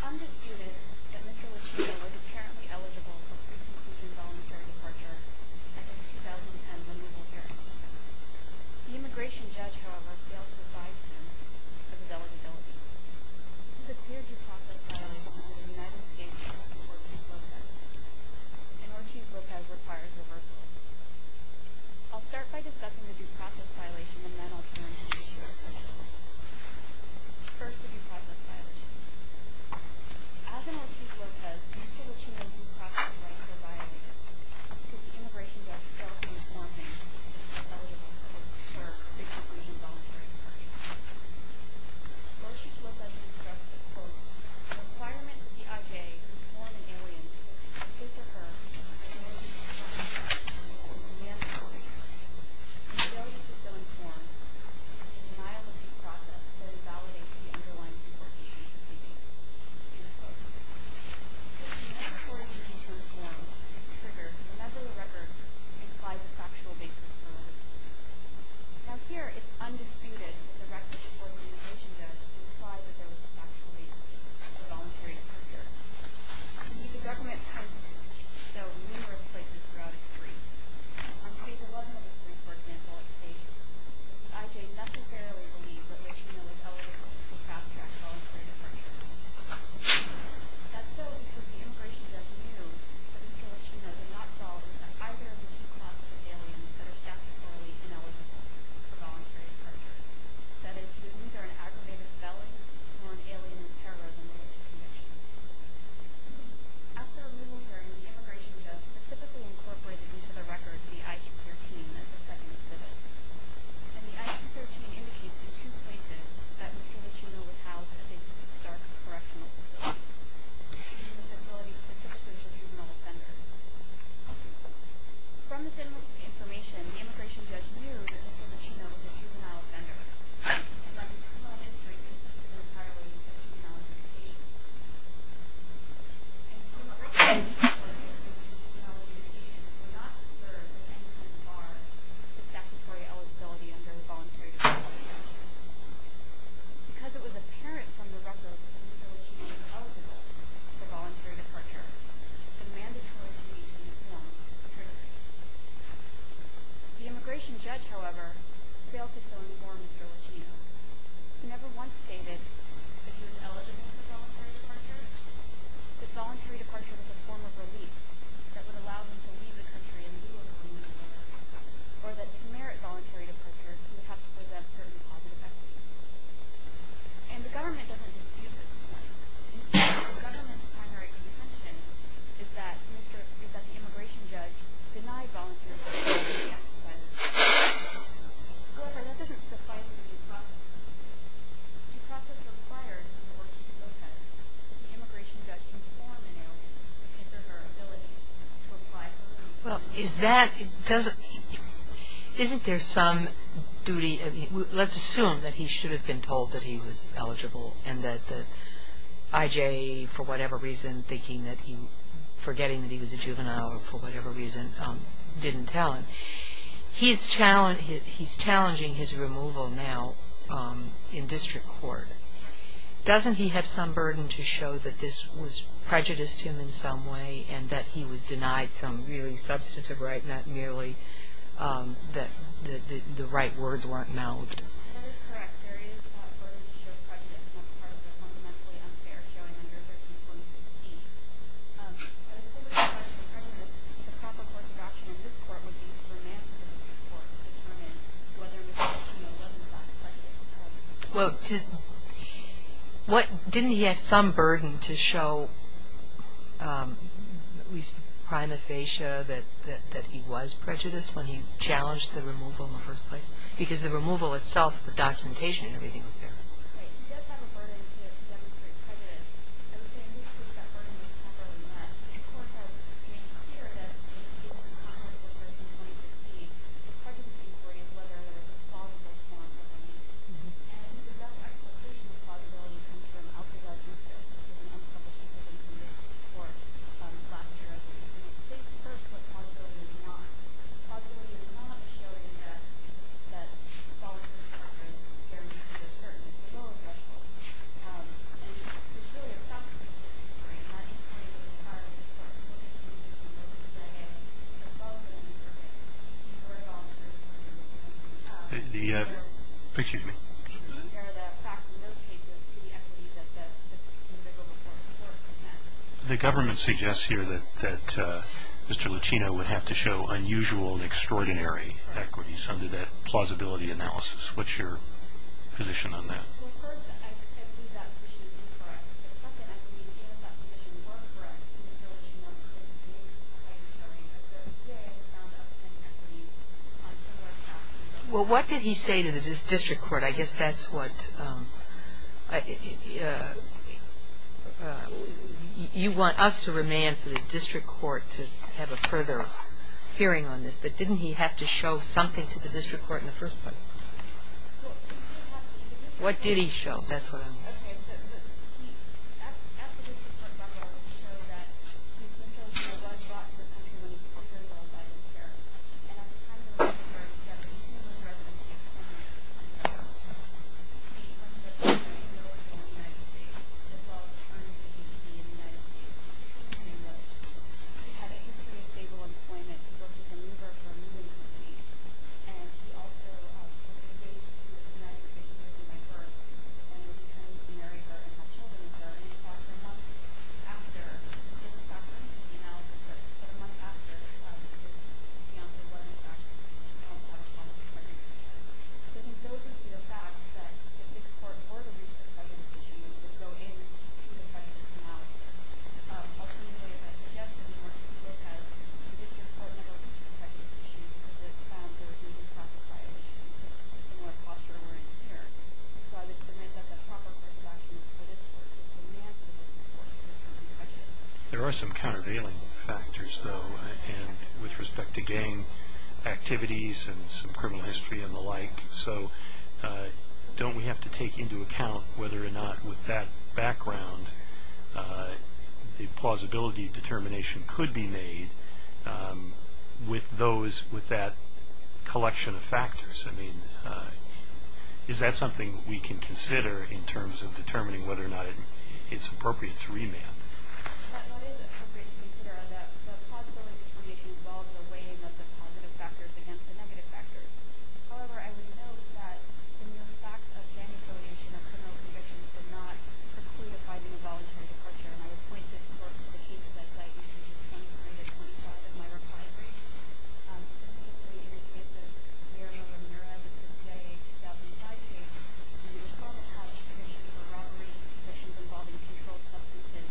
It is undisputed that Mr. Lachino was apparently eligible for pre-conclusion voluntary departure at his 2010 removal hearing. The immigration judge, however, failed to advise him of his eligibility. This is a peer-review process violation under the United States Constitution. An Ortiz-Lopez requires reversal. I'll start by discussing the due process violation and then I'll turn to the shared questions. First, the due process violation. As an Ortiz-Lopez, Mr. Lachino's due process rights were violated because the immigration judge failed to inform him that he was eligible for pre-conclusion voluntary departure. Ortiz-Lopez instructs that, quote, the requirements of the I.J. to inform an alien in his or her ability to inform the denial of due process will invalidate the underlying report he is seeking. End quote. The inability of the I.J. to inform is triggered whenever the records imply the factual basis for the report. Now here, it's undisputed that the records before the immigration judge implied that there was a factual basis for voluntary departure. The U.S. government has, though, numerous places throughout its briefs. On page 11 of his brief, for example, it states that the I.J. necessarily believes that Lachino is eligible to fast-track voluntary departure. That's so because the immigration judge knew that Mr. Lachino did not fall into either of the two classes of aliens that are statutorily ineligible for voluntary departure. That is, he was neither an aggravated felon nor an alien in terrorism-related conditions. After a little hearing, the immigration judge specifically incorporated each of the records in the I.Q. 13 as the second exhibit. And the I.Q. 13 indicates the two places that Mr. Lachino was housed at the Stark Correctional Facility, which is a facility specifically for juvenile offenders. From this information, the immigration judge knew that Mr. Lachino was a juvenile offender, and that his criminal history consisted entirely of juvenile invasions. And the immigration judge reported that these juvenile invasions were not to serve anything as far as statutory eligibility under the Voluntary Departure Act. Because it was apparent from the record that Mr. Lachino was eligible for voluntary departure, it was mandatory to meet the informed criteria. The immigration judge, however, failed to so inform Mr. Lachino. He never once stated that he was eligible for voluntary departure, that voluntary departure was a form of relief that would allow him to leave the country and move on, or that to merit voluntary departure, he would have to present certain positive evidence. And the government doesn't dispute this point. Instead, the government's primary contention is that the immigration judge denied voluntary departure. Well, is that, isn't there some duty, let's assume that he should have been told that he was eligible, and that the IJA, for whatever reason, thinking that he, forgetting that he was a juvenile, for whatever reason, didn't tell him that he was eligible for voluntary departure. He's challenging his removal now in district court. Doesn't he have some burden to show that this was prejudiced to him in some way, and that he was denied some really substantive right, not merely that the right words weren't mouthed? That is correct. There is a burden to show prejudice as part of the fundamentally unfair showing under 1346D. But as far as the question of prejudice, the proper course of action in this court would be to remand him to district court to determine whether Mr. Lachino was in fact entitled to voluntary departure. Well, didn't he have some burden to show, at least prima facie, that he was prejudiced when he challenged the removal in the first place? Because the removal itself, the documentation and everything was there. Right. He does have a burden to demonstrate prejudice. I would say in this case that burden was never met. This court has made it clear that in the case of the Congress in 2013, the prejudice inquiry is whether there was a plausible form of remand. And the rough explication of plausibility comes from Alcazar Justus, who was an unpublished petition from this court last year. He states first what plausibility is not. Plausibility is not a showing that voluntary departure guarantees a certain parole threshold. And there's really a problem in this case, right? How do you find the required support? What do you think Mr. Lachino should say? As well as a new survey, or a voluntary departure survey. Excuse me. Do you think there are facts in those cases to the equity that the individual reports were content? The government suggests here that Mr. Lachino would have to show unusual and extraordinary equities under that plausibility analysis. What's your position on that? Well, first, I believe that petition is incorrect. Second, I believe, yes, that petition was correct, but Mr. Lachino couldn't be able to provide a survey of those. Yet, he found outstanding equities on similar facts. Well, what did he say to the district court? I guess that's what you want us to remand for the district court to have a further hearing on this. But didn't he have to show something to the district court in the first place? What did he show? That's what I'm asking. to marry her and have children. Was there any thought for months after? Was there any thought for months after the analysis? Was there any thought for months after the analysis? To be honest with you, I don't know. I think those would be the facts that if this court were to reach the prejudice issue, it would go in to the prejudice analysis. Ultimately, as I suggested in my report, the district court never reached the prejudice issue because it found there was no declassified issue. It was a similar posture we're in here. So, I would submit that the proper court's actions for this court would be to remand for the district court to have a further discussion. There are some countervailing factors, though, with respect to gang activities and some criminal history and the like. So, don't we have to take into account whether or not with that background the plausibility determination could be made with that collection of factors? I mean, is that something we can consider in terms of determining whether or not it's appropriate to remand? What is appropriate to consider is that the plausibility determination involves a weighing of the positive factors against the negative factors. However, I would note that the mere fact of gang affiliation or criminal convictions would not preclude advising a voluntary departure, and I would point this court to the cases I cite, which is 29 to 25 of my reply briefs. Specifically, in the case of Maramona Murad with the CIA 2005 case, the respondent had a condition of a robbery, a condition involving controlled substances,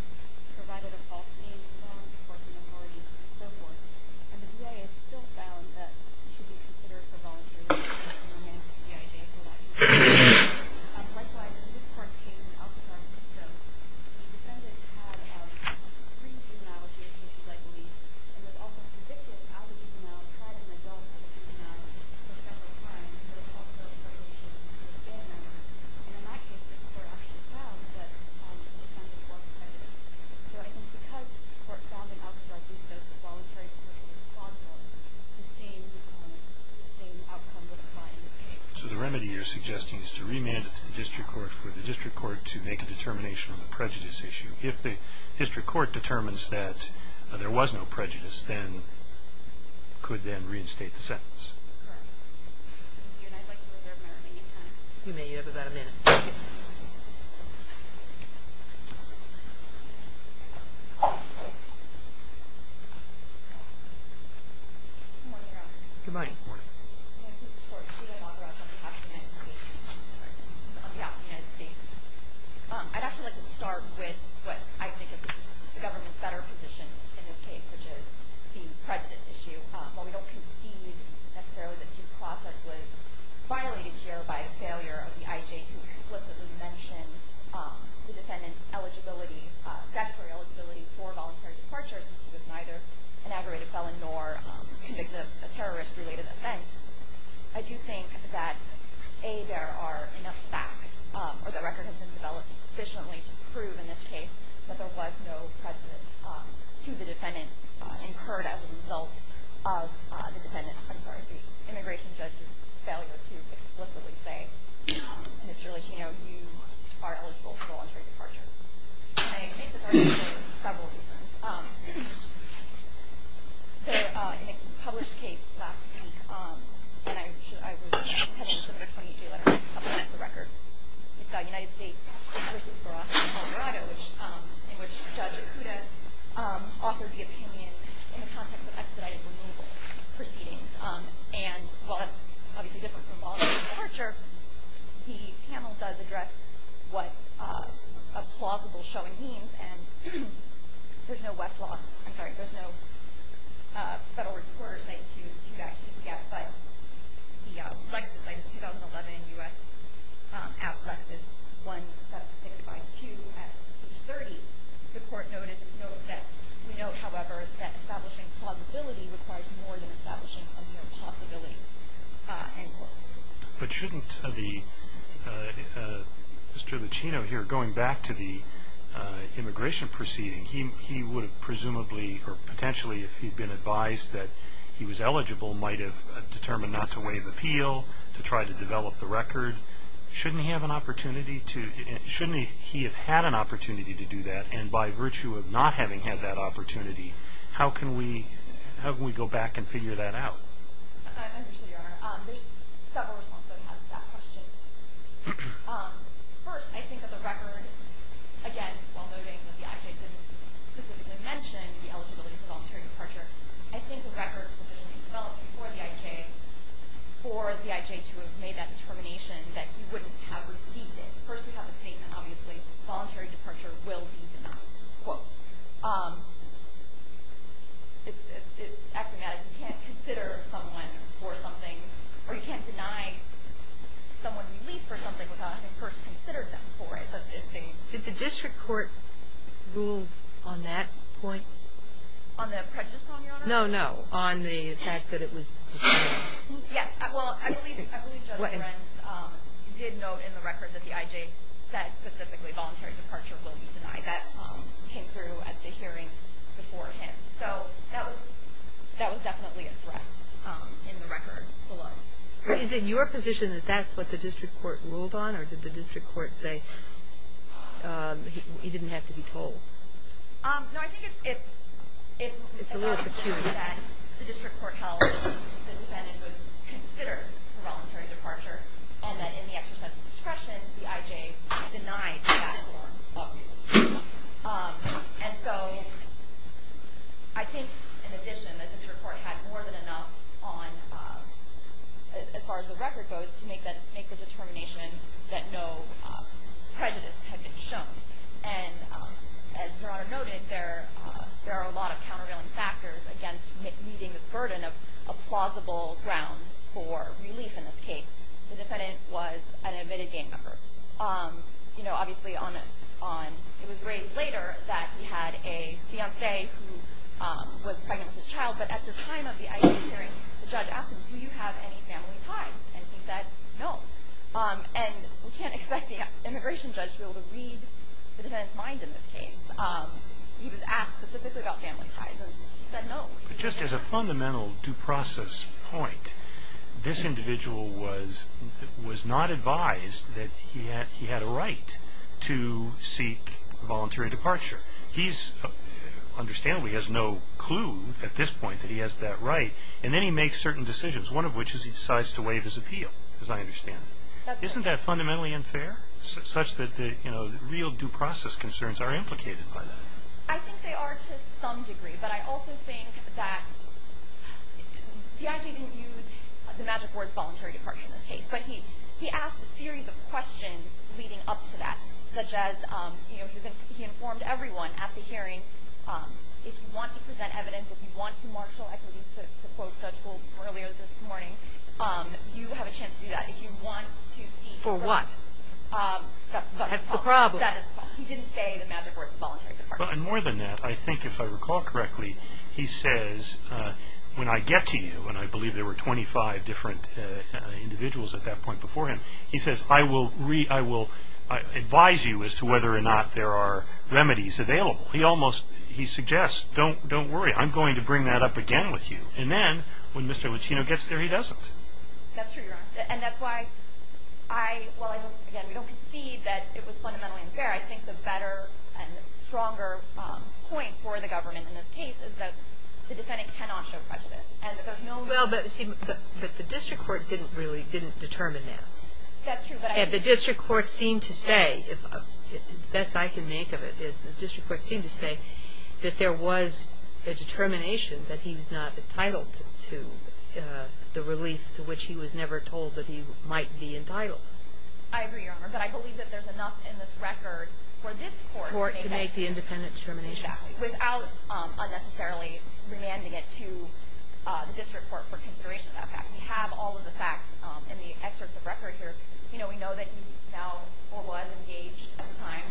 provided a false name to the law enforcement authorities, and so forth. And the VA has still found that this should be considered for voluntary departure to remand the CIJ for life. On my side, this court's case in Alcatraz, so the defendant had a pre-juvenile case, I believe, and was also convicted out of juvenile, had an adult as a juvenile for several crimes, but was also a pregnant woman. And in my case, this court actually found that the defendant was pregnant. So I think because the court found in Alcatraz, just as the voluntary separation is plausible, the same outcome would apply in this case. So the remedy you're suggesting is to remand it to the district court for the district court to make a determination on the prejudice issue. If the district court determines that there was no prejudice, then it could then reinstate the sentence. Correct. Thank you, and I'd like to reserve my remaining time. You may. You have about a minute. Good morning, Your Honor. Good morning. I'm here in support of juvenile Alcatraz on behalf of the United States. I'd actually like to start with what I think is the government's better position in this case, which is the prejudice issue. While we don't concede necessarily that due process was violated here by failure of the IJ to explicitly mention the defendant's statutory eligibility for voluntary departure, since he was neither an aggravated felon nor a terrorist-related offense, I do think that, A, there are enough facts or the record has been developed sufficiently to prove in this case that there was no prejudice to the defendant incurred as a result of the immigration judge's failure to explicitly say, Mr. Licino, you are eligible for voluntary departure. I think there are several reasons. In a published case last week, and I wrote a petition with a 28-day letter to the public for the record, it's the United States v. Verasco, Colorado, in which Judge Ikuda authored the opinion in the context of expedited removal proceedings. And while that's obviously different from voluntary departure, the panel does address what a plausible showing means, and there's no Westlaw, I'm sorry, there's no federal recorder's right to that case yet, but the license plate is 2011 U.S. Act, license 17652. At page 30, the court notes that we note, however, that establishing plausibility requires more than establishing a mere possibility. But shouldn't Mr. Licino here, going back to the immigration proceeding, he would have presumably, or potentially if he'd been advised that he was eligible, might have determined not to waive appeal, to try to develop the record. Shouldn't he have an opportunity to, shouldn't he have had an opportunity to do that, and by virtue of not having had that opportunity, how can we go back and figure that out? I'm interested, Your Honor. There's several responses I have to that question. First, I think that the record, again, while noting that the IJ didn't specifically mention the eligibility for voluntary departure, I think the records would have been developed before the IJ, for the IJ to have made that determination that he wouldn't have received it. First, we have the statement, obviously, that voluntary departure will be denied. It's axiomatic. You can't consider someone for something, or you can't deny someone relief for something without having first considered them for it. Did the district court rule on that point? On the prejudice problem, Your Honor? No, no. On the fact that it was determined. Yes. Well, I believe Judge Renz did note in the record that the IJ said specifically voluntary departure will be denied. That came through at the hearing beforehand. So that was definitely addressed in the record alone. Is it your position that that's what the district court ruled on, or did the district court say he didn't have to be told? No, I think it's a little peculiar. The district court held the defendant was considered for voluntary departure, and that in the exercise of discretion, the IJ denied that for him. And so I think, in addition, the district court had more than enough on, as far as the record goes, to make the determination that no prejudice had been shown. And as Your Honor noted, there are a lot of countervailing factors against meeting this burden of a plausible ground for relief in this case. The defendant was an admitted gang member. Obviously, it was raised later that he had a fiancée who was pregnant with his child. But at the time of the IJ hearing, the judge asked him, do you have any family ties? And he said no. And we can't expect the immigration judge to be able to read the defendant's mind in this case. He was asked specifically about family ties, and he said no. But just as a fundamental due process point, this individual was not advised that he had a right to seek voluntary departure. He, understandably, has no clue at this point that he has that right. And then he makes certain decisions, one of which is he decides to waive his appeal, as I understand it. Isn't that fundamentally unfair, such that real due process concerns are implicated by that? I think they are to some degree. But I also think that the IJ didn't use the Magic Word's voluntary departure in this case. But he asked a series of questions leading up to that, such as, you know, he informed everyone at the hearing, if you want to present evidence, if you want to marshal equities, to quote Judge Bull earlier this morning, you have a chance to do that. If you want to seek – For what? That's the problem. That's the problem. He didn't say the Magic Word's voluntary departure. And more than that, I think if I recall correctly, he says, when I get to you, and I believe there were 25 different individuals at that point before him, he says, I will advise you as to whether or not there are remedies available. He almost – he suggests, don't worry, I'm going to bring that up again with you. And then when Mr. Lucino gets there, he doesn't. That's true, Your Honor. And that's why I – well, again, we don't concede that it was fundamentally unfair. I think the better and stronger point for the government in this case is that the defendant cannot show prejudice. And there's no – Well, but, see, the district court didn't really – didn't determine that. That's true, but I – And the district court seemed to say, the best I can make of it is the district court seemed to say that there was a determination that he was not entitled to the relief to which he was never told that he might be entitled. I agree, Your Honor. But I believe that there's enough in this record for this court to say that. Court to make the independent determination. Exactly. Without unnecessarily remanding it to the district court for consideration of that fact. We have all of the facts in the excerpts of record here. You know, we know that he now or was engaged at the time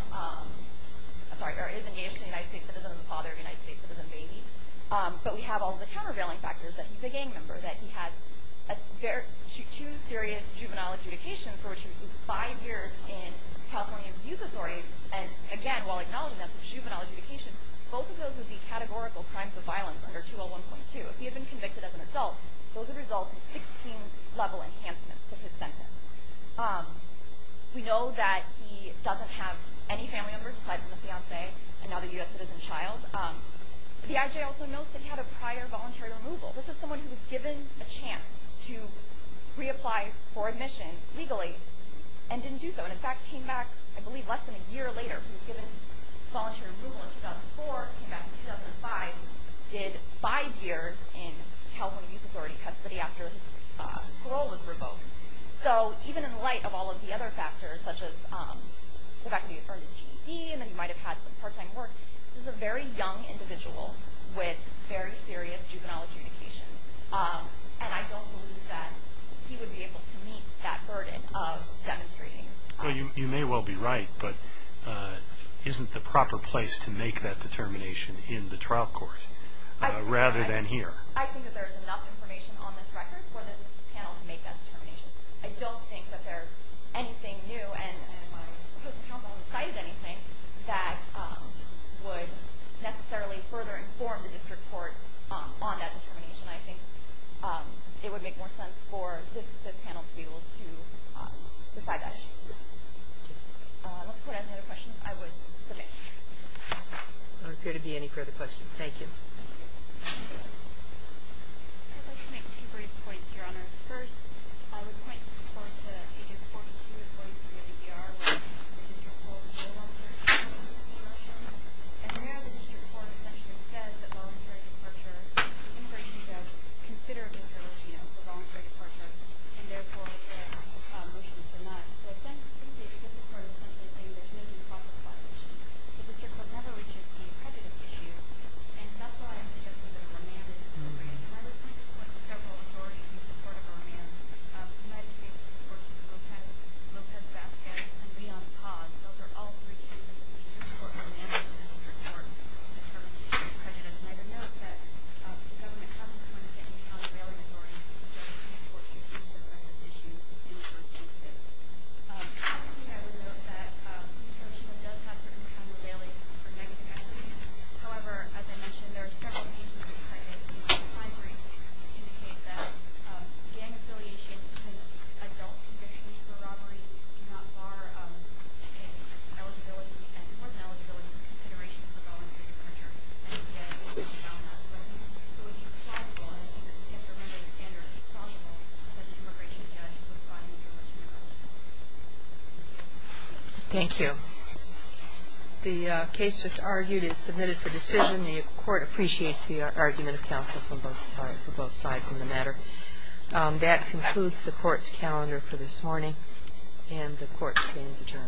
– sorry, or is engaged in the United States Citizen and the father of the United States Citizen baby. But we have all of the countervailing factors that he's a gang member, that he has two serious juvenile adjudications for which he received five years in California Youth Authority. And, again, while acknowledging that's a juvenile adjudication, both of those would be categorical crimes of violence under 201.2. If he had been convicted as an adult, those would result in 16-level enhancements to his sentence. We know that he doesn't have any family members aside from his fiancee and now the U.S. Citizen child. The I.J. also notes that he had a prior voluntary removal. This is someone who was given a chance to reapply for admission legally and didn't do so. And, in fact, came back, I believe, less than a year later. He was given voluntary removal in 2004, came back in 2005, did five years in California Youth Authority custody after his parole was revoked. So even in light of all of the other factors, such as the fact that he earned his GED and that he might have had some part-time work, this is a very young individual with very serious juvenile adjudications. And I don't believe that he would be able to meet that burden of demonstrating. Well, you may well be right, but isn't the proper place to make that determination in the trial court rather than here? I think that there is enough information on this record for this panel to make that determination. I don't think that there's anything new, and my post of counsel hasn't cited anything, that would necessarily further inform the district court on that determination. I think it would make more sense for this panel to be able to decide that issue. Unless the court has any other questions, I would submit. There don't appear to be any further questions. Thank you. I'd like to make two brief points, Your Honors. First, I would point the court to pages 42 and 43 of the EDR, where the district court is no longer involved in this discussion. And there, the district court essentially says that voluntary departure, the immigration judge considered this as, you know, a voluntary departure, and therefore the motion is denied. So I think the district court is essentially saying that he may be qualified. The district court never reaches the accredited issue, and that's why I suggested that a remand is appropriate. And I would point the court to several authorities in support of a remand. The United States Courts of Appeals, Lopez, Vasquez, and Beyond Paws, those are all three candidates in support of a remand in the district court. The first is the president. And I would note that the government hasn't committed to any kind of bailing authority since 2014, which is on this issue in the first instance. Secondly, I would note that the district court does have certain kinds of bailings However, as I mentioned, there are several cases in this case that indicate that gang affiliation in adult conditions for robbery do not bar an eligibility, an important eligibility, in consideration for voluntary departure. Thank you. The case just argued is submitted for decision. The court appreciates the argument of counsel for both sides of the matter. That concludes the court's calendar for this morning, and the court stands adjourned. All rise. Court is adjourned.